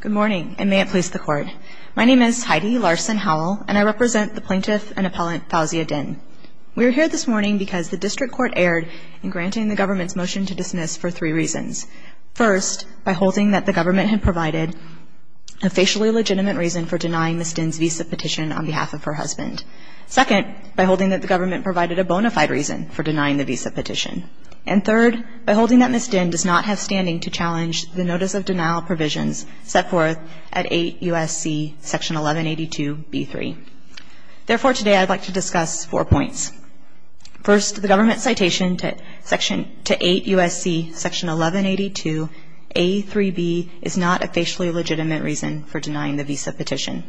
Good morning, and may it please the Court. My name is Heidi Larson Howell, and I represent the plaintiff and appellant Fauzia Din. We are here this morning because the District Court erred in granting the government's motion to dismiss for three reasons. First, by holding that the government had provided a facially legitimate reason for denying Ms. Din's visa petition on behalf of her husband. Second, by holding that the government provided a bona fide reason for denying the visa petition. And third, by holding that Ms. Din does not have standing to challenge the notice of denial provisions set forth at 8 U.S.C. 1182.B.3. Therefore, today I would like to discuss four points. First, the government's citation to 8 U.S.C. 1182.A.3.B. is not a facially legitimate reason for denying the visa petition.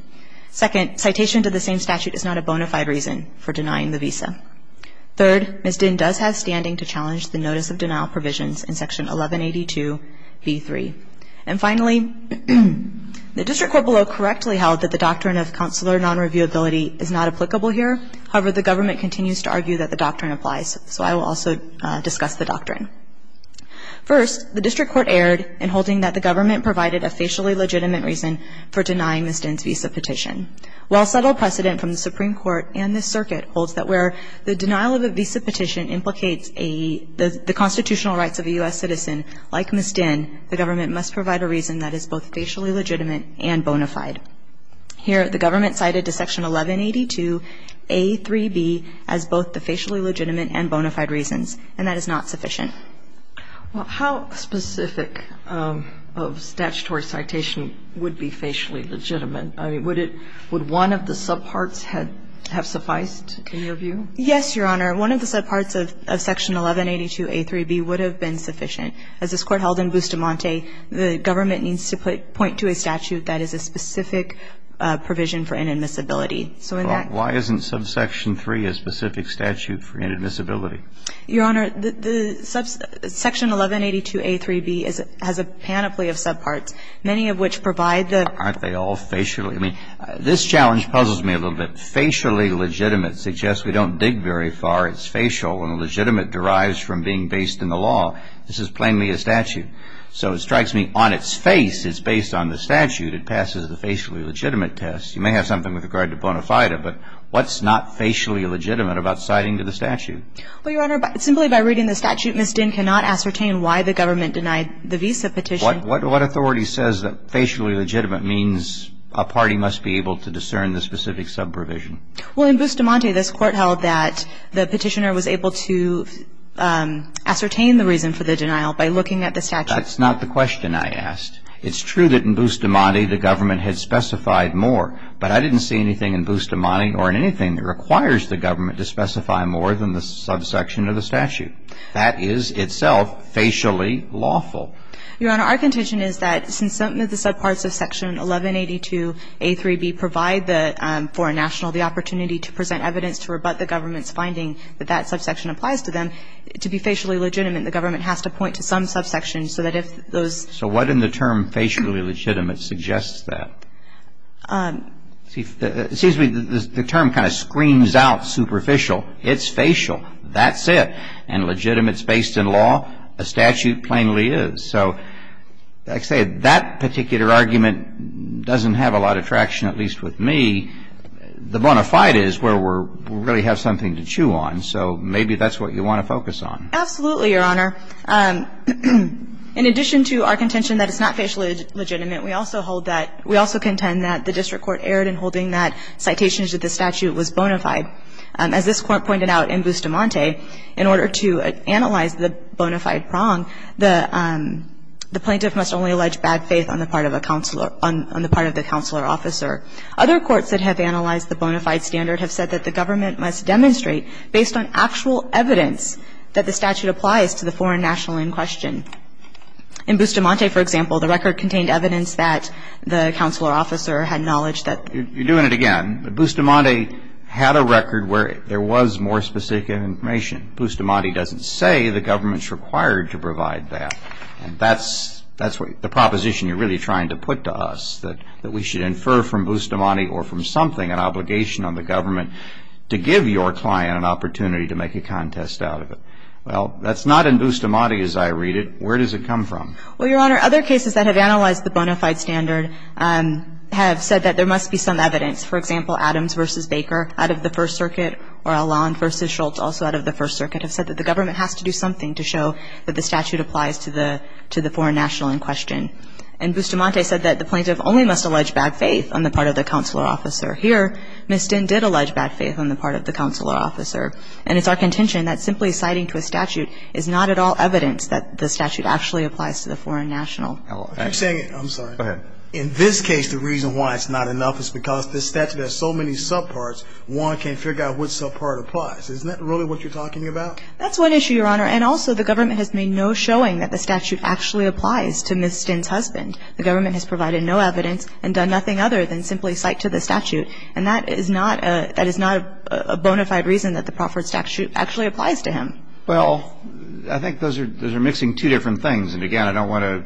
Second, citation to the same statute is not a bona fide reason for denying the visa. Third, Ms. Din does have standing to challenge the notice of denial provisions in Section 1182.B.3. And finally, the District Court below correctly held that the doctrine of counselor non-reviewability is not applicable here. However, the government continues to argue that the doctrine applies, so I will also discuss the doctrine. First, the District Court erred in holding that the government provided a facially legitimate reason for denying Ms. Din's visa petition. While subtle precedent from the Supreme Court and this circuit holds that where the denial of a visa petition implicates a the constitutional rights of a U.S. citizen, like Ms. Din, the government must provide a reason that is both facially legitimate and bona fide. Here, the government cited to Section 1182.A.3.B. as both the facially legitimate and bona fide reasons, and that is not sufficient. Well, how specific of statutory citation would be facially legitimate? I mean, would it – would one of the subparts have sufficed, in your view? Yes, Your Honor. One of the subparts of Section 1182.A.3.B. would have been sufficient. As this Court held in Bustamante, the government needs to point to a statute that is a specific provision for inadmissibility. So in that – Well, why isn't subsection 3 a specific statute for inadmissibility? Your Honor, the – Section 1182.A.3.B. has a panoply of subparts, many of which provide the – Aren't they all facially – I mean, this challenge puzzles me a little bit. Facially legitimate suggests we don't dig very far. It's facial, and legitimate derives from being based in the law. This is plainly a statute. So it strikes me on its face it's based on the statute. It passes the facially legitimate test. You may have something with regard to bona fide, but what's not facially legitimate about citing to the statute? Well, Your Honor, simply by reading the statute, Ms. Dinn cannot ascertain why the government denied the visa petition. What authority says that facially legitimate means a party must be able to discern the specific subprovision? Well, in Bustamante, this Court held that the petitioner was able to ascertain the reason for the denial by looking at the statute. That's not the question I asked. It's true that in Bustamante the government had specified more, but I didn't see anything in Bustamante or in anything that requires the government to specify more than the subsection of the statute. That is itself facially lawful. Your Honor, our contention is that since some of the subparts of Section 1182a3b provide the foreign national the opportunity to present evidence to rebut the government's finding that that subsection applies to them, to be facially legitimate, the government has to point to some subsection so that if those. So what in the term facially legitimate suggests that? It seems to me the term kind of screams out superficial. It's facial. That's it. And legitimate is based in law. A statute plainly is. So I'd say that particular argument doesn't have a lot of traction, at least with me. The bona fide is where we really have something to chew on. So maybe that's what you want to focus on. Absolutely, Your Honor. In addition to our contention that it's not facially legitimate, we also hold that, we also contend that the district court erred in holding that citation as if the statute was bona fide. As this Court pointed out in Bustamante, in order to analyze the bona fide prong, the plaintiff must only allege bad faith on the part of the counselor, on the part of the counselor officer. Other courts that have analyzed the bona fide standard have said that the government must demonstrate based on actual evidence that the statute applies to the foreign national in question. In Bustamante, for example, the record contained evidence that the counselor officer had knowledge that... You're doing it again. Bustamante had a record where there was more specific information. Bustamante doesn't say the government's required to provide that. And that's the proposition you're really trying to put to us, that we should infer from Bustamante or from something an obligation on the government to give your client an opportunity to make a contest out of it. Well, that's not in Bustamante as I read it. Where does it come from? Well, Your Honor, other cases that have analyzed the bona fide standard have said that there must be some evidence, for example, Adams v. Baker out of the First Circuit, or Alon v. Schultz, also out of the First Circuit, have said that the government has to do something to show that the statute applies to the foreign national in question. In Bustamante, it said that the plaintiff only must allege bad faith on the part of the counselor officer. Here, Ms. Dinh did allege bad faith on the part of the counselor officer. And it's our contention that simply citing to a statute is not at all evidence that the statute actually applies to the foreign national. I'm saying it. I'm sorry. Go ahead. In this case, the reason why it's not enough is because this statute has so many subparts, one can't figure out which subpart applies. Isn't that really what you're talking about? That's one issue, Your Honor. And also, the government has made no showing that the statute actually applies to Ms. Dinh's husband. The government has provided no evidence and done nothing other than simply cite to the statute. And that is not a bona fide reason that the Crawford statute actually applies to him. Well, I think those are mixing two different things. And, again, I don't want to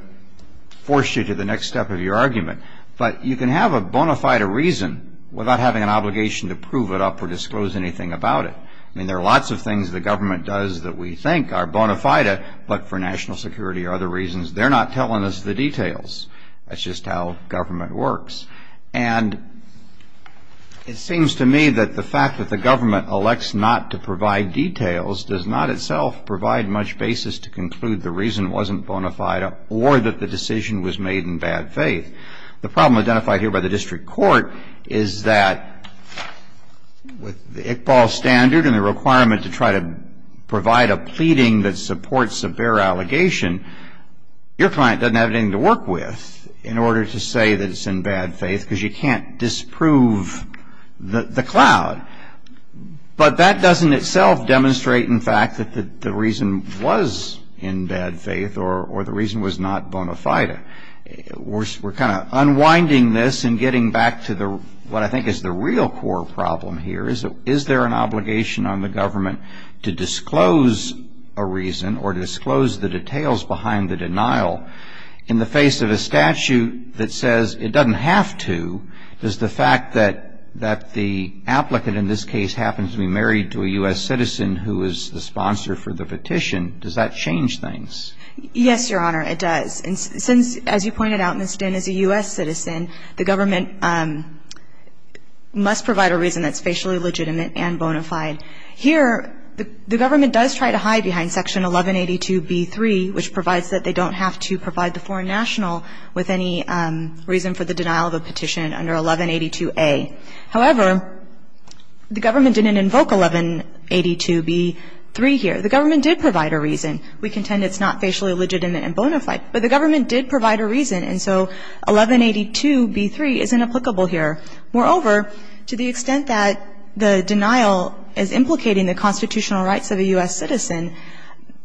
force you to the next step of your argument. But you can have a bona fide reason without having an obligation to prove it up or disclose anything about it. I mean, there are lots of things the government does that we think are bona fide, but for national security or other reasons, they're not telling us the details. That's just how government works. And it seems to me that the fact that the government elects not to provide details does not itself provide much basis to conclude the reason wasn't bona fide or that the decision was made in bad faith. The problem identified here by the district court is that with the Iqbal standard and the requirement to try to provide a pleading that supports a bare allegation, your client doesn't have anything to work with in order to say that it's in bad faith because you can't disprove the cloud. But that doesn't itself demonstrate, in fact, that the reason was in bad faith or the reason was not bona fide. We're kind of unwinding this and getting back to what I think is the real core problem here. Is there an obligation on the government to disclose a reason or disclose the fact that the applicant in this case happens to be married to a U.S. citizen who is the sponsor for the petition, does that change things? Yes, Your Honor, it does. And since, as you pointed out, Ms. Dinn is a U.S. citizen, the government must provide a reason that's facially legitimate and bona fide. Here, the government does try to hide behind Section 1182b3, which provides that they don't have to provide the foreign national with any reason for the denial of a petition under 1182a. However, the government didn't invoke 1182b3 here. The government did provide a reason. We contend it's not facially legitimate and bona fide. But the government did provide a reason, and so 1182b3 is inapplicable here. Moreover, to the extent that the denial is implicating the constitutional rights of a U.S. citizen,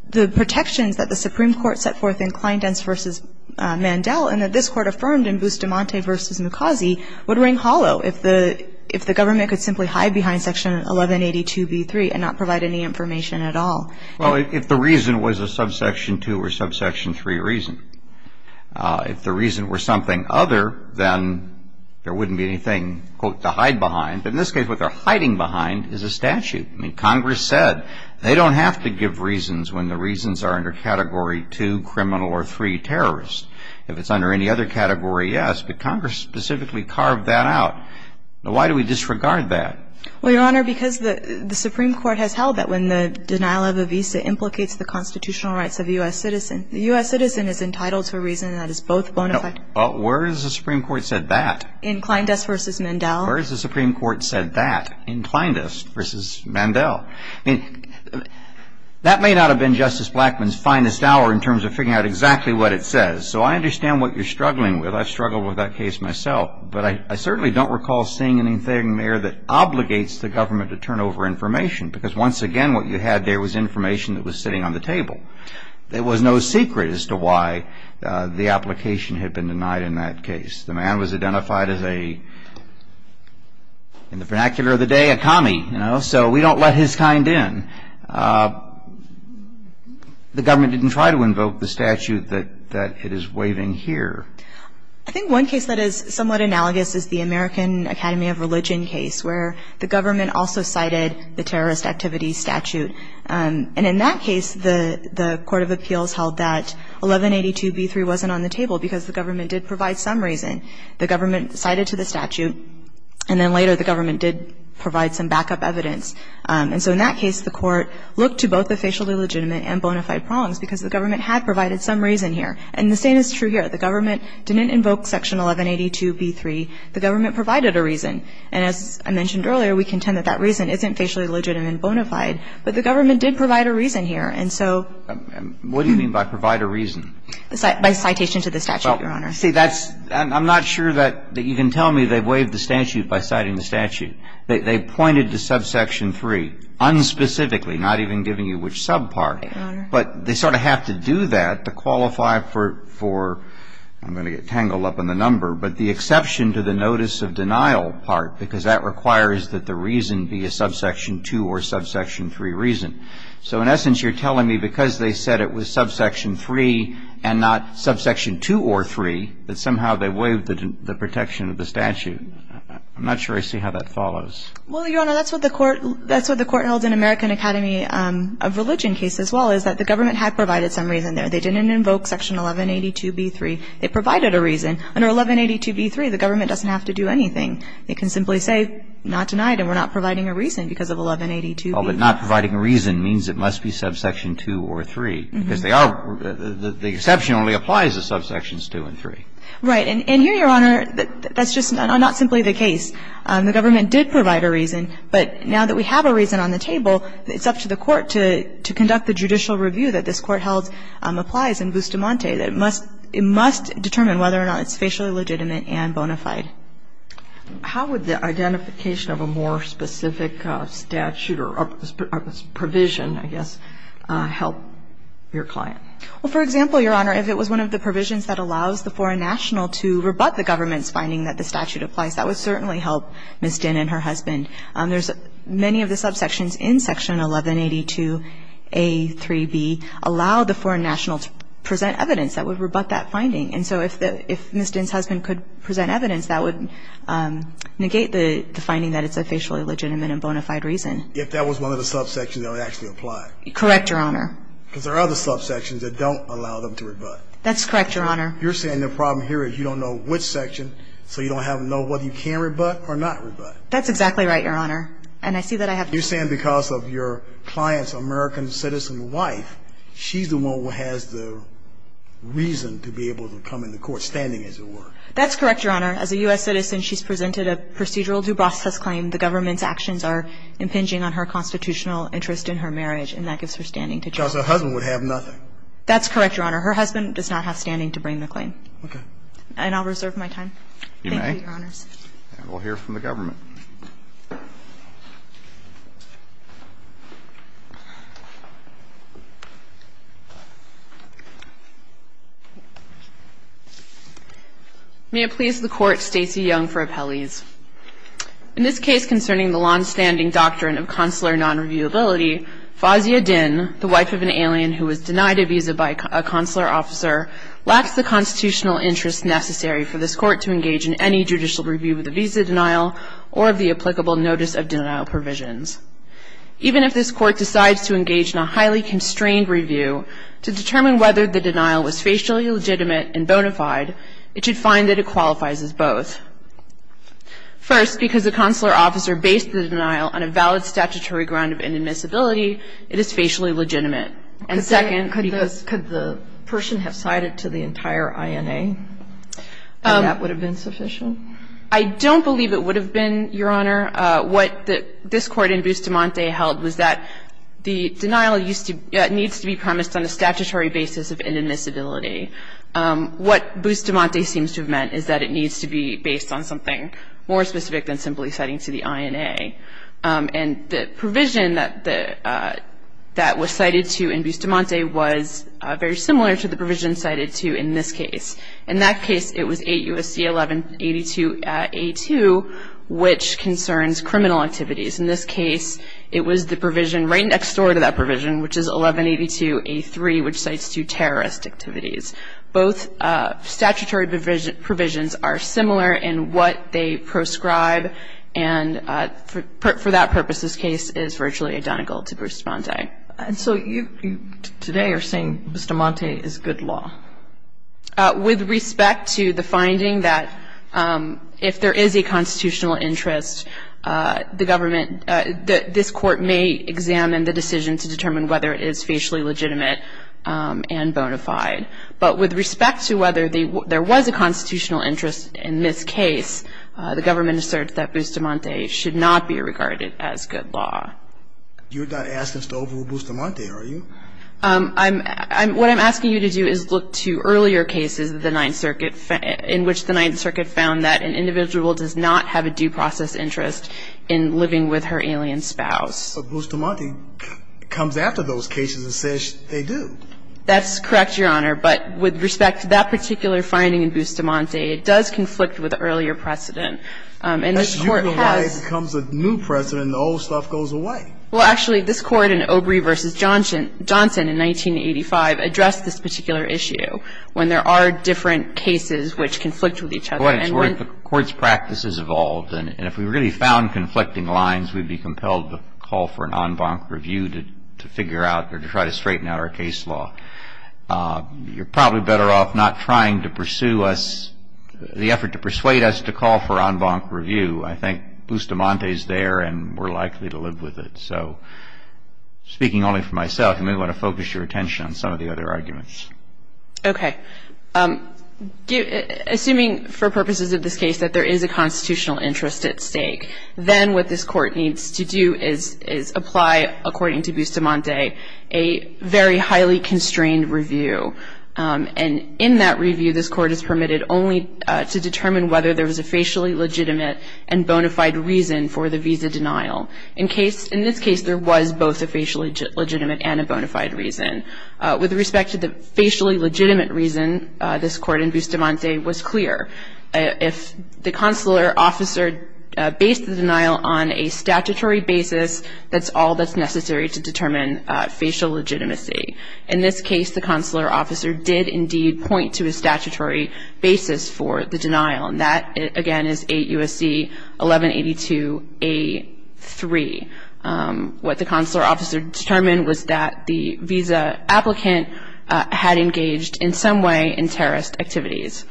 the protections that the Supreme Court set forth in Justice DeMonte v. Mukasey would ring hollow if the government could simply hide behind Section 1182b3 and not provide any information at all. Well, if the reason was a subsection 2 or subsection 3 reason. If the reason were something other, then there wouldn't be anything, quote, to hide behind. In this case, what they're hiding behind is a statute. I mean, Congress said they don't have to give reasons when the reasons are under Category 2, criminal, or 3, terrorist. If it's under any other category, yes. But Congress specifically carved that out. Now, why do we disregard that? Well, Your Honor, because the Supreme Court has held that when the denial of a visa implicates the constitutional rights of a U.S. citizen, the U.S. citizen is entitled to a reason that is both bona fide. Well, where has the Supreme Court said that? Inclindus v. Mandel. Where has the Supreme Court said that? Inclindus v. Mandel. I mean, that may not have been Justice Blackmun's finest hour in terms of figuring out exactly what it says. So I understand what you're struggling with. I've struggled with that case myself. But I certainly don't recall seeing anything there that obligates the government to turn over information. Because, once again, what you had there was information that was sitting on the table. There was no secret as to why the application had been denied in that case. The man was identified as a, in the vernacular of the day, a commie. So we don't let his kind in. The government didn't try to invoke the statute that it is waiving here. I think one case that is somewhat analogous is the American Academy of Religion case, where the government also cited the terrorist activities statute. And in that case, the court of appeals held that 1182b3 wasn't on the table because the government did provide some reason. The government cited to the statute, and then later the government did provide some backup evidence. And so in that case, the court looked to both the facially legitimate and bona fide prongs because the government had provided some reason here. And the same is true here. The government didn't invoke section 1182b3. The government provided a reason. And as I mentioned earlier, we contend that that reason isn't facially legitimate and bona fide, but the government did provide a reason here. And so ---- What do you mean by provide a reason? By citation to the statute, Your Honor. Well, see, that's ñ I'm not sure that you can tell me they waived the statute by citing the statute. They pointed to subsection 3 unspecifically, not even giving you which sub part. Your Honor. But they sort of have to do that to qualify for ñ I'm going to get tangled up in the number, but the exception to the notice of denial part because that requires that the reason be a subsection 2 or subsection 3 reason. So in essence, you're telling me because they said it was subsection 3 and not subsection 2 or 3, that somehow they waived the protection of the statute. I'm not sure I see how that follows. Well, Your Honor, that's what the court held in American Academy of Religion case as well, is that the government had provided some reason there. They didn't invoke section 1182b3. It provided a reason. Under 1182b3, the government doesn't have to do anything. It can simply say not denied and we're not providing a reason because of 1182b3. Well, but not providing a reason means it must be subsection 2 or 3, because they are ñ the exception only applies to subsections 2 and 3. Right. And here, Your Honor, that's just not simply the case. The government did provide a reason, but now that we have a reason on the table, it's up to the court to conduct the judicial review that this court held applies in Bustamante, that it must determine whether or not it's facially legitimate and bona fide. How would the identification of a more specific statute or provision, I guess, help your client? Well, for example, Your Honor, if it was one of the provisions that allows the foreign national to rebut the government's finding that the statute applies, that would certainly help Ms. Dinn and her husband. There's many of the subsections in section 1182a3b allow the foreign national to present evidence that would rebut that finding. And so if Ms. Dinn's husband could present evidence, that would negate the finding that it's a facially legitimate and bona fide reason. If that was one of the subsections that would actually apply. Correct, Your Honor. Because there are other subsections that don't allow them to rebut. That's correct, Your Honor. You're saying the problem here is you don't know which section, so you don't have to know whether you can rebut or not rebut. That's exactly right, Your Honor. And I see that I have to. You're saying because of your client's American citizen wife, she's the one who has the reason to be able to come into court, standing, as it were. That's correct, Your Honor. As a U.S. citizen, she's presented a procedural due process claim. The government's actions are impinging on her constitutional interest in her marriage, and that gives her standing to charge. Because her husband would have nothing. That's correct, Your Honor. Her husband does not have standing to bring the claim. Okay. And I'll reserve my time. You may. Thank you, Your Honors. And we'll hear from the government. May it please the Court, Stacey Young for appellees. In this case concerning the longstanding doctrine of consular nonreviewability, Fawzia Dinn, the wife of an alien who was denied a visa by a consular officer, lacks the constitutional interest necessary for this Court to engage in any judicial review of the visa denial or of the applicable notice of denial provisions. Even if this Court decides to engage in a highly constrained review to determine whether the denial was facially legitimate and bona fide, it should find that it qualifies as both. First, because the consular officer based the denial on a valid statutory ground of inadmissibility, it is facially legitimate. And second, because. Could the person have cited to the entire INA and that would have been sufficient? I don't believe it would have been, Your Honor. What this Court in Bustamante held was that the denial needs to be promised on a statutory basis of inadmissibility. What Bustamante seems to have meant is that it needs to be based on something more specific than simply citing to the INA. And the provision that was cited to in Bustamante was very similar to the provision cited to in this case. In that case, it was 8 U.S.C. 1182a2, which concerns criminal activities. In this case, it was the provision right next door to that provision, which is 1182a3, which cites to terrorist activities. Both statutory provisions are similar in what they proscribe. And for that purpose, this case is virtually identical to Bustamante. And so you today are saying Bustamante is good law? With respect to the finding that if there is a constitutional interest, the government, this Court may examine the decision to determine whether it is facially legitimate and bona fide. But with respect to whether there was a constitutional interest in this case, the government asserts that Bustamante should not be regarded as good law. You're not asking us to overrule Bustamante, are you? What I'm asking you to do is look to earlier cases in which the Ninth Circuit found that an individual does not have a due process interest in living with her alien spouse. But Bustamante comes after those cases and says they do. That's correct, Your Honor. But with respect to that particular finding in Bustamante, it does conflict with the earlier precedent. And this Court has --- That's usually why it becomes a new precedent and the old stuff goes away. Well, actually, this Court in Obrey v. Johnson in 1985 addressed this particular issue, when there are different cases which conflict with each other. Well, that's where the Court's practice has evolved. And if we really found conflicting lines, we'd be compelled to call for an en banc review to figure out or to try to straighten out our case law. You're probably better off not trying to pursue us, the effort to persuade us to call for en banc review. I think Bustamante's there and we're likely to live with it. So speaking only for myself, you may want to focus your attention on some of the other arguments. Okay. Assuming for purposes of this case that there is a constitutional interest at stake, then what this Court needs to do is apply, according to Bustamante, a very highly constrained review. And in that review, this Court is permitted only to determine whether there was a facially legitimate and bona fide reason for the visa denial. In this case, there was both a facially legitimate and a bona fide reason. With respect to the facially legitimate reason, this Court in Bustamante was clear. If the consular officer based the denial on a statutory basis, that's all that's necessary to determine facial legitimacy. In this case, the consular officer did indeed point to a statutory basis for the denial. And that, again, is 8 U.S.C. 1182a3. What the consular officer determined was that the visa applicant had engaged in some way in terrorist activities.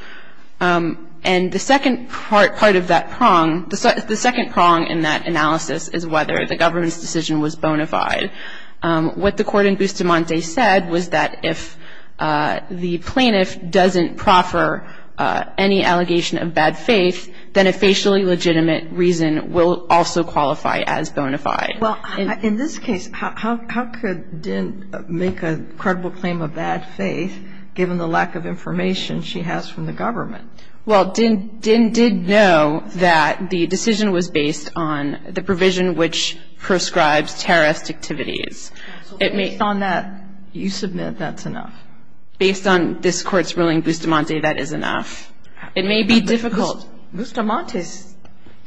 And the second part of that prong, the second prong in that analysis is whether the government's decision was bona fide. What the Court in Bustamante said was that if the plaintiff doesn't proffer any evidence, then the government's decision is bona fide. In this case, how could Dinh make a credible claim of bad faith given the lack of information she has from the government? Well, Dinh did know that the decision was based on the provision which prescribes terrorist activities. Based on that, you submit that's enough? Based on this Court's ruling in Bustamante, that is enough. It may be difficult. Bustamante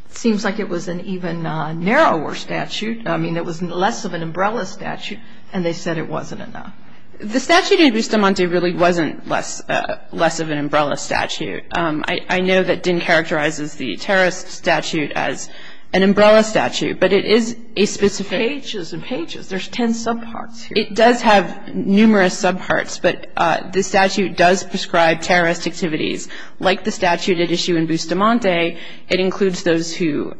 seems like it was an even narrower statute. I mean, it was less of an umbrella statute, and they said it wasn't enough. The statute in Bustamante really wasn't less of an umbrella statute. I know that Dinh characterizes the terrorist statute as an umbrella statute, but it is a specific ---- Pages and pages. There's ten subparts here. It does have numerous subparts, but the statute does prescribe terrorist activities. Like the statute at issue in Bustamante, it includes those who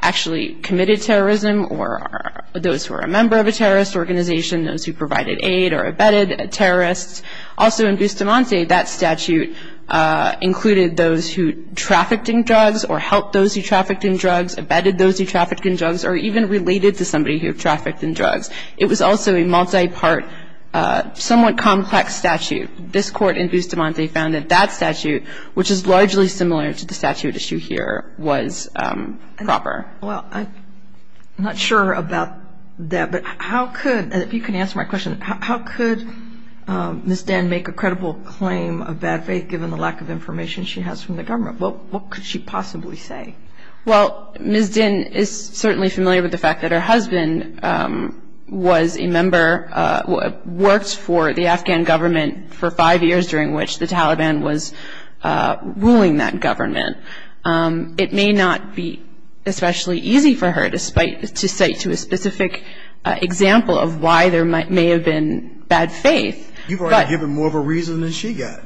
actually committed terrorism or those who are a member of a terrorist organization, those who provided aid or abetted terrorists. Also in Bustamante, that statute included those who trafficked in drugs or helped those who trafficked in drugs, abetted those who trafficked in drugs, or even related to somebody who trafficked in drugs. It was also a multi-part, somewhat complex statute. This Court in Bustamante found that that statute, which is largely similar to the statute at issue here, was proper. Well, I'm not sure about that, but how could, and if you can answer my question, how could Ms. Dinh make a credible claim of bad faith given the lack of information she has from the government? What could she possibly say? Well, Ms. Dinh is certainly familiar with the fact that her husband was a member, worked for the Afghan government for five years during which the Taliban was ruling that government. It may not be especially easy for her to cite to a specific example of why there may have been bad faith. You've already given more of a reason than she got.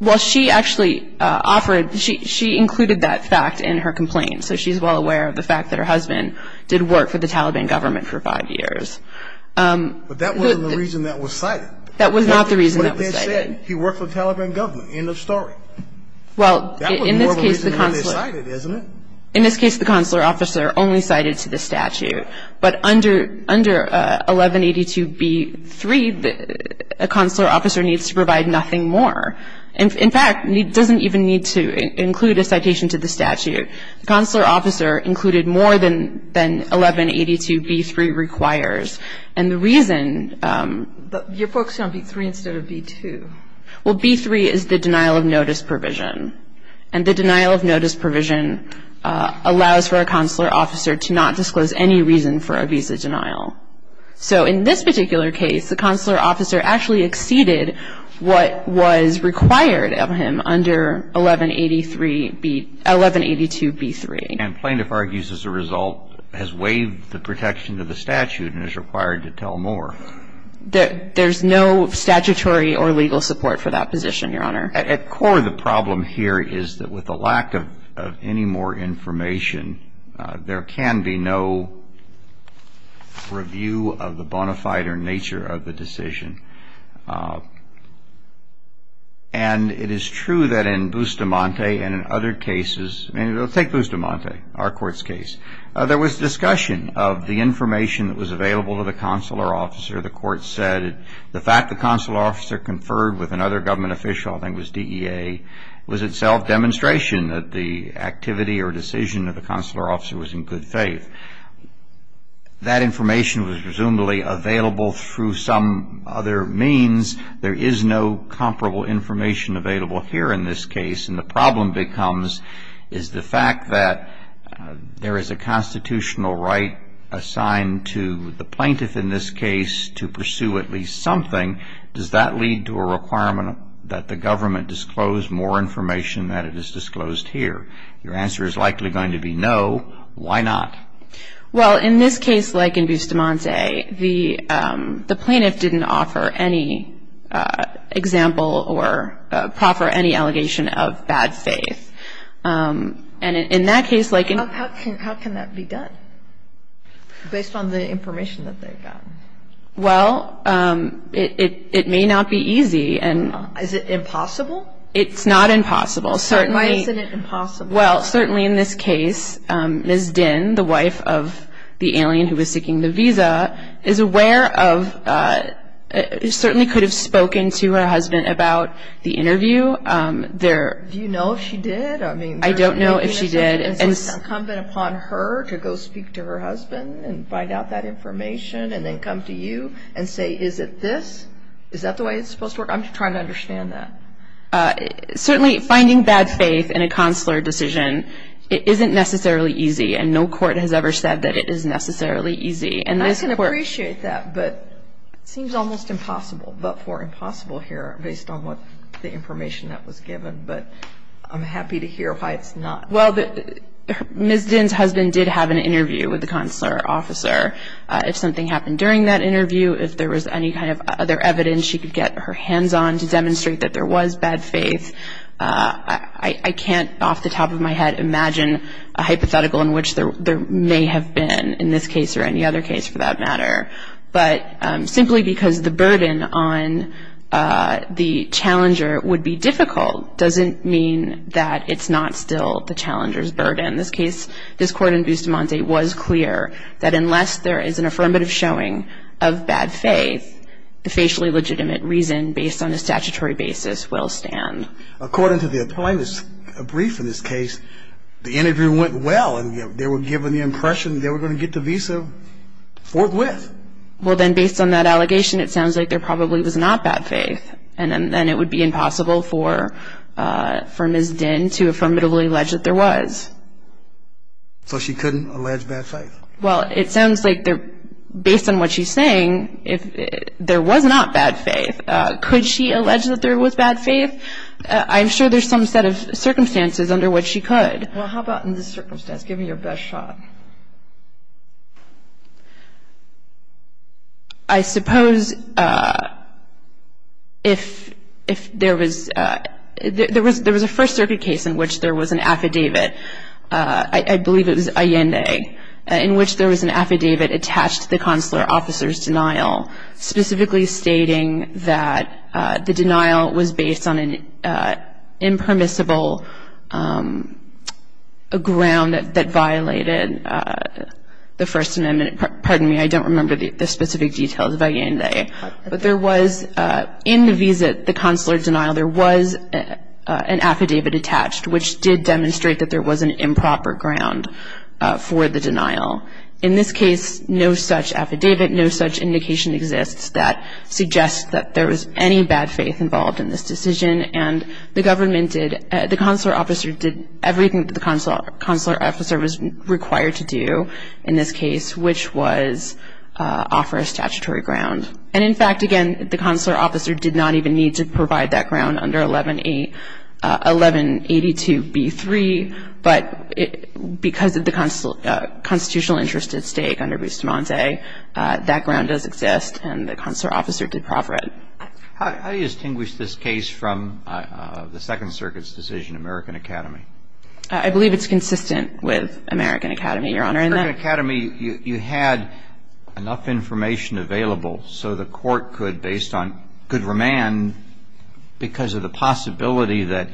Well, she actually offered, she included that fact in her complaint, so she's well aware of the fact that her husband did work for the Taliban government for five years. But that wasn't the reason that was cited. That was not the reason that was cited. He worked for the Taliban government, end of story. That was more of a reason than they cited, isn't it? In this case, the consular officer only cited to the statute, but under 1182B3, a consular officer needs to provide nothing more. In fact, it doesn't even need to include a citation to the statute. The consular officer included more than 1182B3 requires. And the reason you're focusing on B3 instead of B2. Well, B3 is the denial of notice provision, and the denial of notice provision allows for a consular officer to not disclose any reason for a visa denial. So in this particular case, the consular officer actually exceeded what was required of him under 1182B3. And plaintiff argues as a result has waived the protection of the statute and is required to tell more. There's no statutory or legal support for that position, Your Honor. At core of the problem here is that with the lack of any more information, there can be no review of the bona fide or nature of the decision. And it is true that in Bustamante and in other cases, take Bustamante, our court's case, there was discussion of the information that was available to the consular officer. The court said the fact the consular officer conferred with another government official, I think it was DEA, was itself demonstration that the activity or decision of the consular officer was in good faith. That information was presumably available through some other means. There is no comparable information available here in this case, and the problem becomes is the fact that there is a constitutional right assigned to the plaintiff in this case to pursue at least something. Does that lead to a requirement that the government disclose more information than it is disclosed here? Your answer is likely going to be no. Why not? Well, in this case, like in Bustamante, the plaintiff didn't offer any example or proffer any allegation of bad faith. And in that case, like in the other cases, How can that be done based on the information that they've gotten? Well, it may not be easy. Is it impossible? It's not impossible. Why isn't it impossible? Well, certainly in this case, Ms. Dinh, the wife of the alien who was seeking the visa, is aware of, certainly could have spoken to her husband about the interview. Do you know if she did? I don't know if she did. And so it's incumbent upon her to go speak to her husband and find out that information and then come to you and say, is it this? Is that the way it's supposed to work? I'm trying to understand that. Certainly finding bad faith in a consular decision, it isn't necessarily easy, and no court has ever said that it is necessarily easy. And I can appreciate that, but it seems almost impossible, but for impossible here, based on what the information that was given. But I'm happy to hear why it's not. Well, Ms. Dinh's husband did have an interview with the consular officer. If something happened during that interview, if there was any kind of other evidence, she could get her hands on to demonstrate that there was bad faith. I can't, off the top of my head, imagine a hypothetical in which there may have been in this case or any other case, for that matter. But simply because the burden on the challenger would be difficult doesn't mean that it's not still the challenger's burden. In this case, this court in Bustamante was clear that unless there is an affirmative showing of bad faith, the facially legitimate reason based on a statutory basis will stand. According to the plaintiff's brief in this case, the interview went well and they were given the impression they were going to get the visa forthwith. Well, then based on that allegation, it sounds like there probably was not bad faith and then it would be impossible for Ms. Dinh to affirmatively allege that there was. So she couldn't allege bad faith? Well, it sounds like based on what she's saying, there was not bad faith. Could she allege that there was bad faith? I'm sure there's some set of circumstances under which she could. Well, how about in this circumstance? Give me your best shot. I suppose if there was a First Circuit case in which there was an affidavit, I believe it was Allende, in which there was an affidavit attached to the consular officer's denial specifically stating that the denial was based on an impermissible ground that violated the First Amendment. Pardon me, I don't remember the specific details of Allende. But there was in the visa, the consular denial, there was an affidavit attached which did demonstrate that there was an improper ground for the denial. In this case, no such affidavit, no such indication exists that suggests that there was any bad faith involved in this decision. And the government did, the consular officer did everything that the consular officer was required to do in this case, which was offer a statutory ground. And in fact, again, the consular officer did not even need to provide that ground under 1182b3. But because of the constitutional interest at stake under Bustamante, that ground does exist and the consular officer did proffer it. How do you distinguish this case from the Second Circuit's decision, American Academy? I believe it's consistent with American Academy, Your Honor. In American Academy, you had enough information available so the court could, based on, could remand because of the possibility that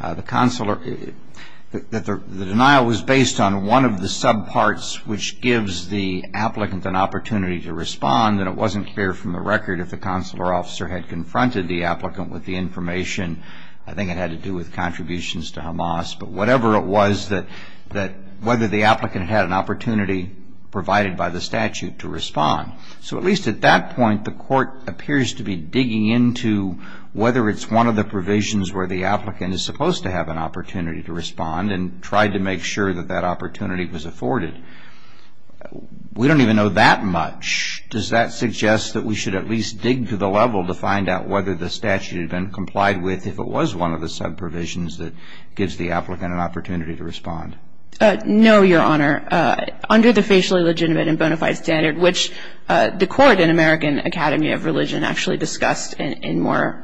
the consular, that the denial was based on one of the subparts which gives the applicant an opportunity to respond and it wasn't clear from the record if the consular officer had confronted the applicant with the information. I think it had to do with contributions to Hamas. But whatever it was that, whether the applicant had an opportunity provided by the statute to respond. So at least at that point, the court appears to be digging into whether it's one of the provisions where the applicant is supposed to have an opportunity to respond and tried to make sure that that opportunity was afforded. We don't even know that much. Does that suggest that we should at least dig to the level to find out whether the statute had been complied with if it was one of the subprovisions that gives the applicant an opportunity to respond? No, Your Honor. Under the Facially Legitimate and Bonafide Standard, which the court in American Academy of Religion actually discussed in more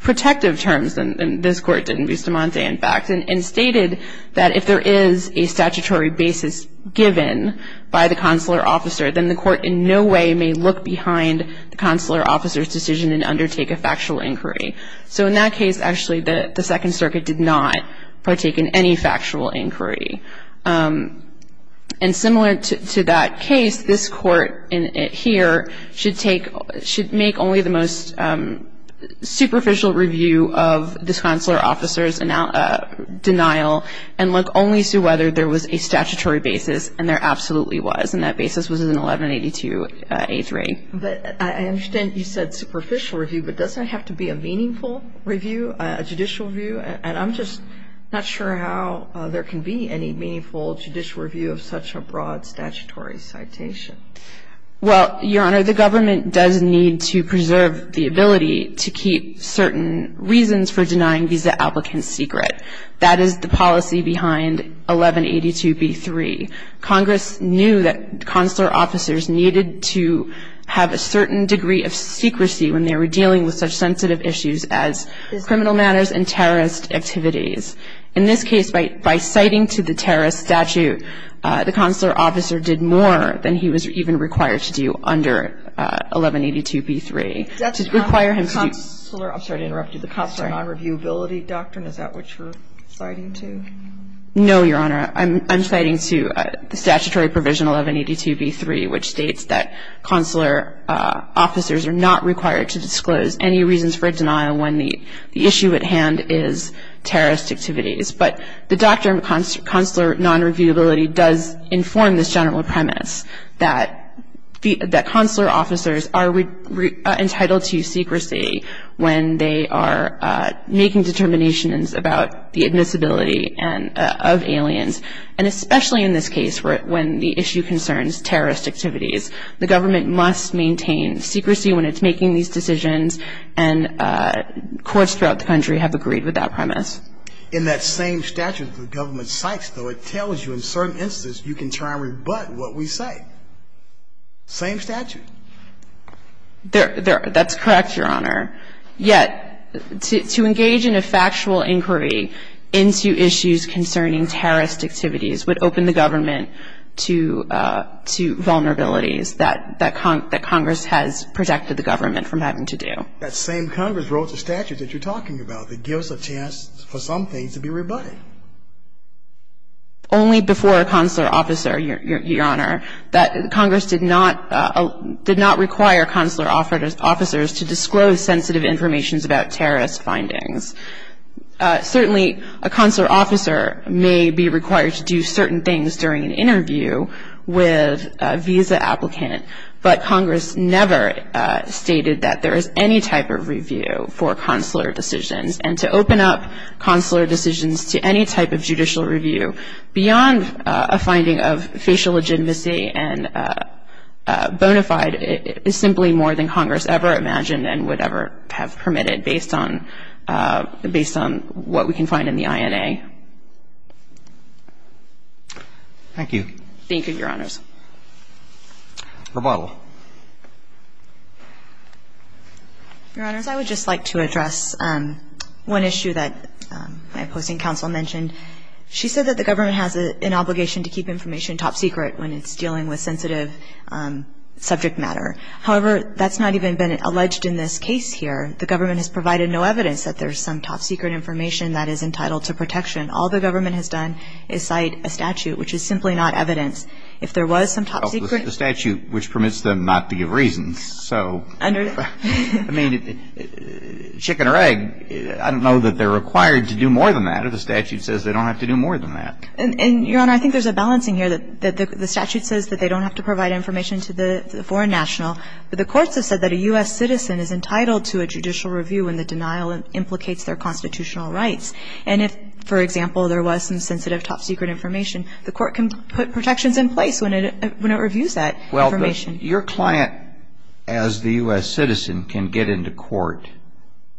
protective terms than this Court did in Bustamante, in fact, and stated that if there is a statutory basis given by the consular officer, then the court in no way may look behind the consular officer's decision and undertake a factual inquiry. So in that case, actually, the Second Circuit did not partake in any factual inquiry. And similar to that case, this Court here should make only the most superficial review of this consular officer's denial and look only to whether there was a statutory basis, and there absolutely was, and that basis was an 1182-A3. But I understand you said superficial review, but doesn't it have to be a meaningful review, a judicial review? And I'm just not sure how there can be any meaningful judicial review of such a broad statutory citation. Well, Your Honor, the government does need to preserve the ability to keep certain reasons for denying visa applicants secret. That is the policy behind 1182-B3. Congress knew that consular officers needed to have a certain degree of secrecy when they were dealing with such sensitive issues as criminal matters and terrorist activities. In this case, by citing to the terrorist statute, the consular officer did more than he was even required to do under 1182-B3. To require him to do the consular non-reviewability doctrine, is that what you're citing to? No, Your Honor. I'm citing to the statutory provision 1182-B3, which states that consular officers are not required to disclose any reasons for denial when the issue at hand is terrorist activities. But the doctrine of consular non-reviewability does inform this general premise that consular officers are entitled to secrecy when they are making determinations about the admissibility of aliens, and especially in this case when the issue concerns terrorist activities. The government must maintain secrecy when it's making these decisions, and courts throughout the country have agreed with that premise. In that same statute the government cites, though, it tells you in certain instances you can try and rebut what we say. Same statute. That's correct, Your Honor. Yet, to engage in a factual inquiry into issues concerning terrorist activities would open the government to vulnerabilities that Congress has protected the government from having to do. That same Congress wrote the statute that you're talking about that gives a chance for some things to be rebutted. Only before a consular officer, Your Honor, that Congress did not require consular officers to disclose sensitive information about terrorist findings. Certainly a consular officer may be required to do certain things during an interview with a visa applicant, but Congress never stated that there is any type of review for consular decisions. And to open up consular decisions to any type of judicial review beyond a finding of facial legitimacy and bona fide is simply more than Congress ever imagined and would ever have permitted based on what we can find in the INA. Thank you. Thank you, Your Honors. Rebuttal. Your Honors, I would just like to address one issue that my opposing counsel mentioned. She said that the government has an obligation to keep information top secret when it's dealing with sensitive subject matter. However, that's not even been alleged in this case here. The government has provided no evidence that there's some top secret information that is entitled to protection. All the government has done is cite a statute which is simply not evidence. If there was some top secret ---- The statute which permits them not to give reasons. So ---- Under ---- I mean, chicken or egg, I don't know that they're required to do more than that or the statute says they don't have to do more than that. And, Your Honor, I think there's a balancing here that the statute says that they don't have to provide information to the foreign national, but the courts have said that a U.S. citizen is entitled to a judicial review when the denial implicates their constitutional rights. And if, for example, there was some sensitive top secret information, the court can put protections in place when it reviews that information. Well, your client as the U.S. citizen can get into court,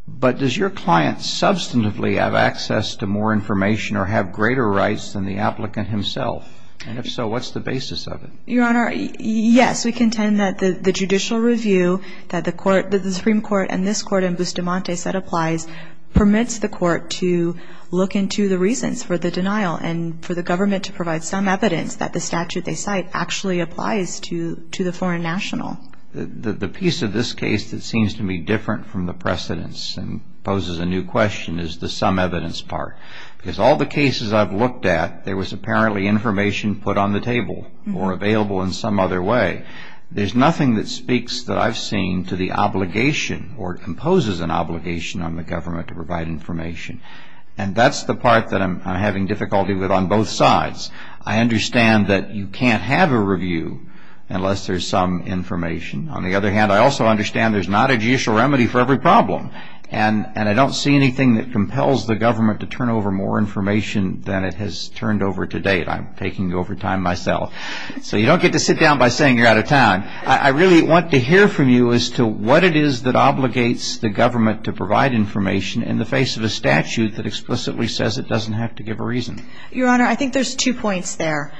but does your client substantively have access to more information or have greater rights than the applicant himself? And if so, what's the basis of it? Your Honor, yes, we contend that the judicial review that the Supreme Court and this Court in Bustamante said applies, permits the court to look into the reasons for the denial and for the government to provide some evidence that the statute they cite actually applies to the foreign national. The piece of this case that seems to me different from the precedents and poses a new question is the some evidence part. Because all the cases I've looked at, there was apparently information put on the table or available in some other way. There's nothing that speaks that I've seen to the obligation or imposes an obligation on the government to provide information. And that's the part that I'm having difficulty with on both sides. I understand that you can't have a review unless there's some information. On the other hand, I also understand there's not a judicial remedy for every problem. And I don't see anything that compels the government to turn over more information than it has turned over to date. I'm taking over time myself. So you don't get to sit down by saying you're out of time. I really want to hear from you as to what it is that obligates the government to provide information in the face of a statute that explicitly says it doesn't have to give a reason. Your Honor, I think there's two points there.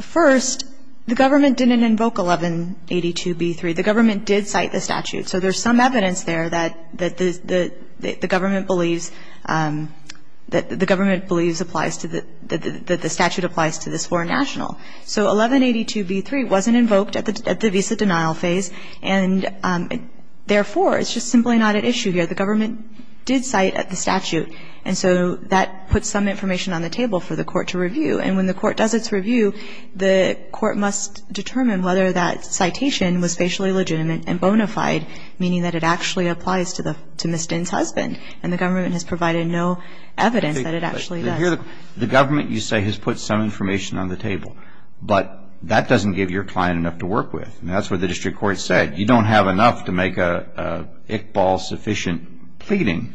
First, the government didn't invoke 1182b3. The government did cite the statute. So there's some evidence there that the government believes, that the statute applies to this foreign national. So 1182b3 wasn't invoked at the visa denial phase, and therefore, it's just simply not at issue here. The government did cite the statute. And so that puts some information on the table for the court to review. And when the court does its review, the court must determine whether that citation was facially legitimate and bona fide, meaning that it actually applies to Ms. Dinh's husband. And the government has provided no evidence that it actually does. The government, you say, has put some information on the table. But that doesn't give your client enough to work with. And that's what the district court said. You don't have enough to make an Iqbal-sufficient pleading.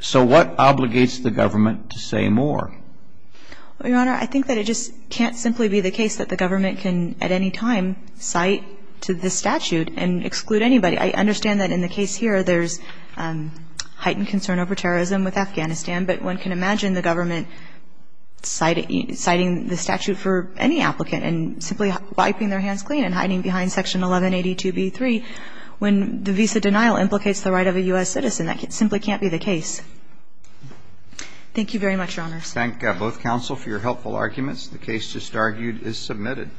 So what obligates the government to say more? Your Honor, I think that it just can't simply be the case that the government can, at any time, cite to this statute and exclude anybody. I understand that in the case here, there's heightened concern over terrorism with Afghanistan. But one can imagine the government citing the statute for any applicant and simply wiping their hands clean and hiding behind Section 1182b3 when the visa denial implicates the right of a U.S. citizen. That simply can't be the case. Thank you very much, Your Honors. Thank both counsel for your helpful arguments. The case just argued is submitted.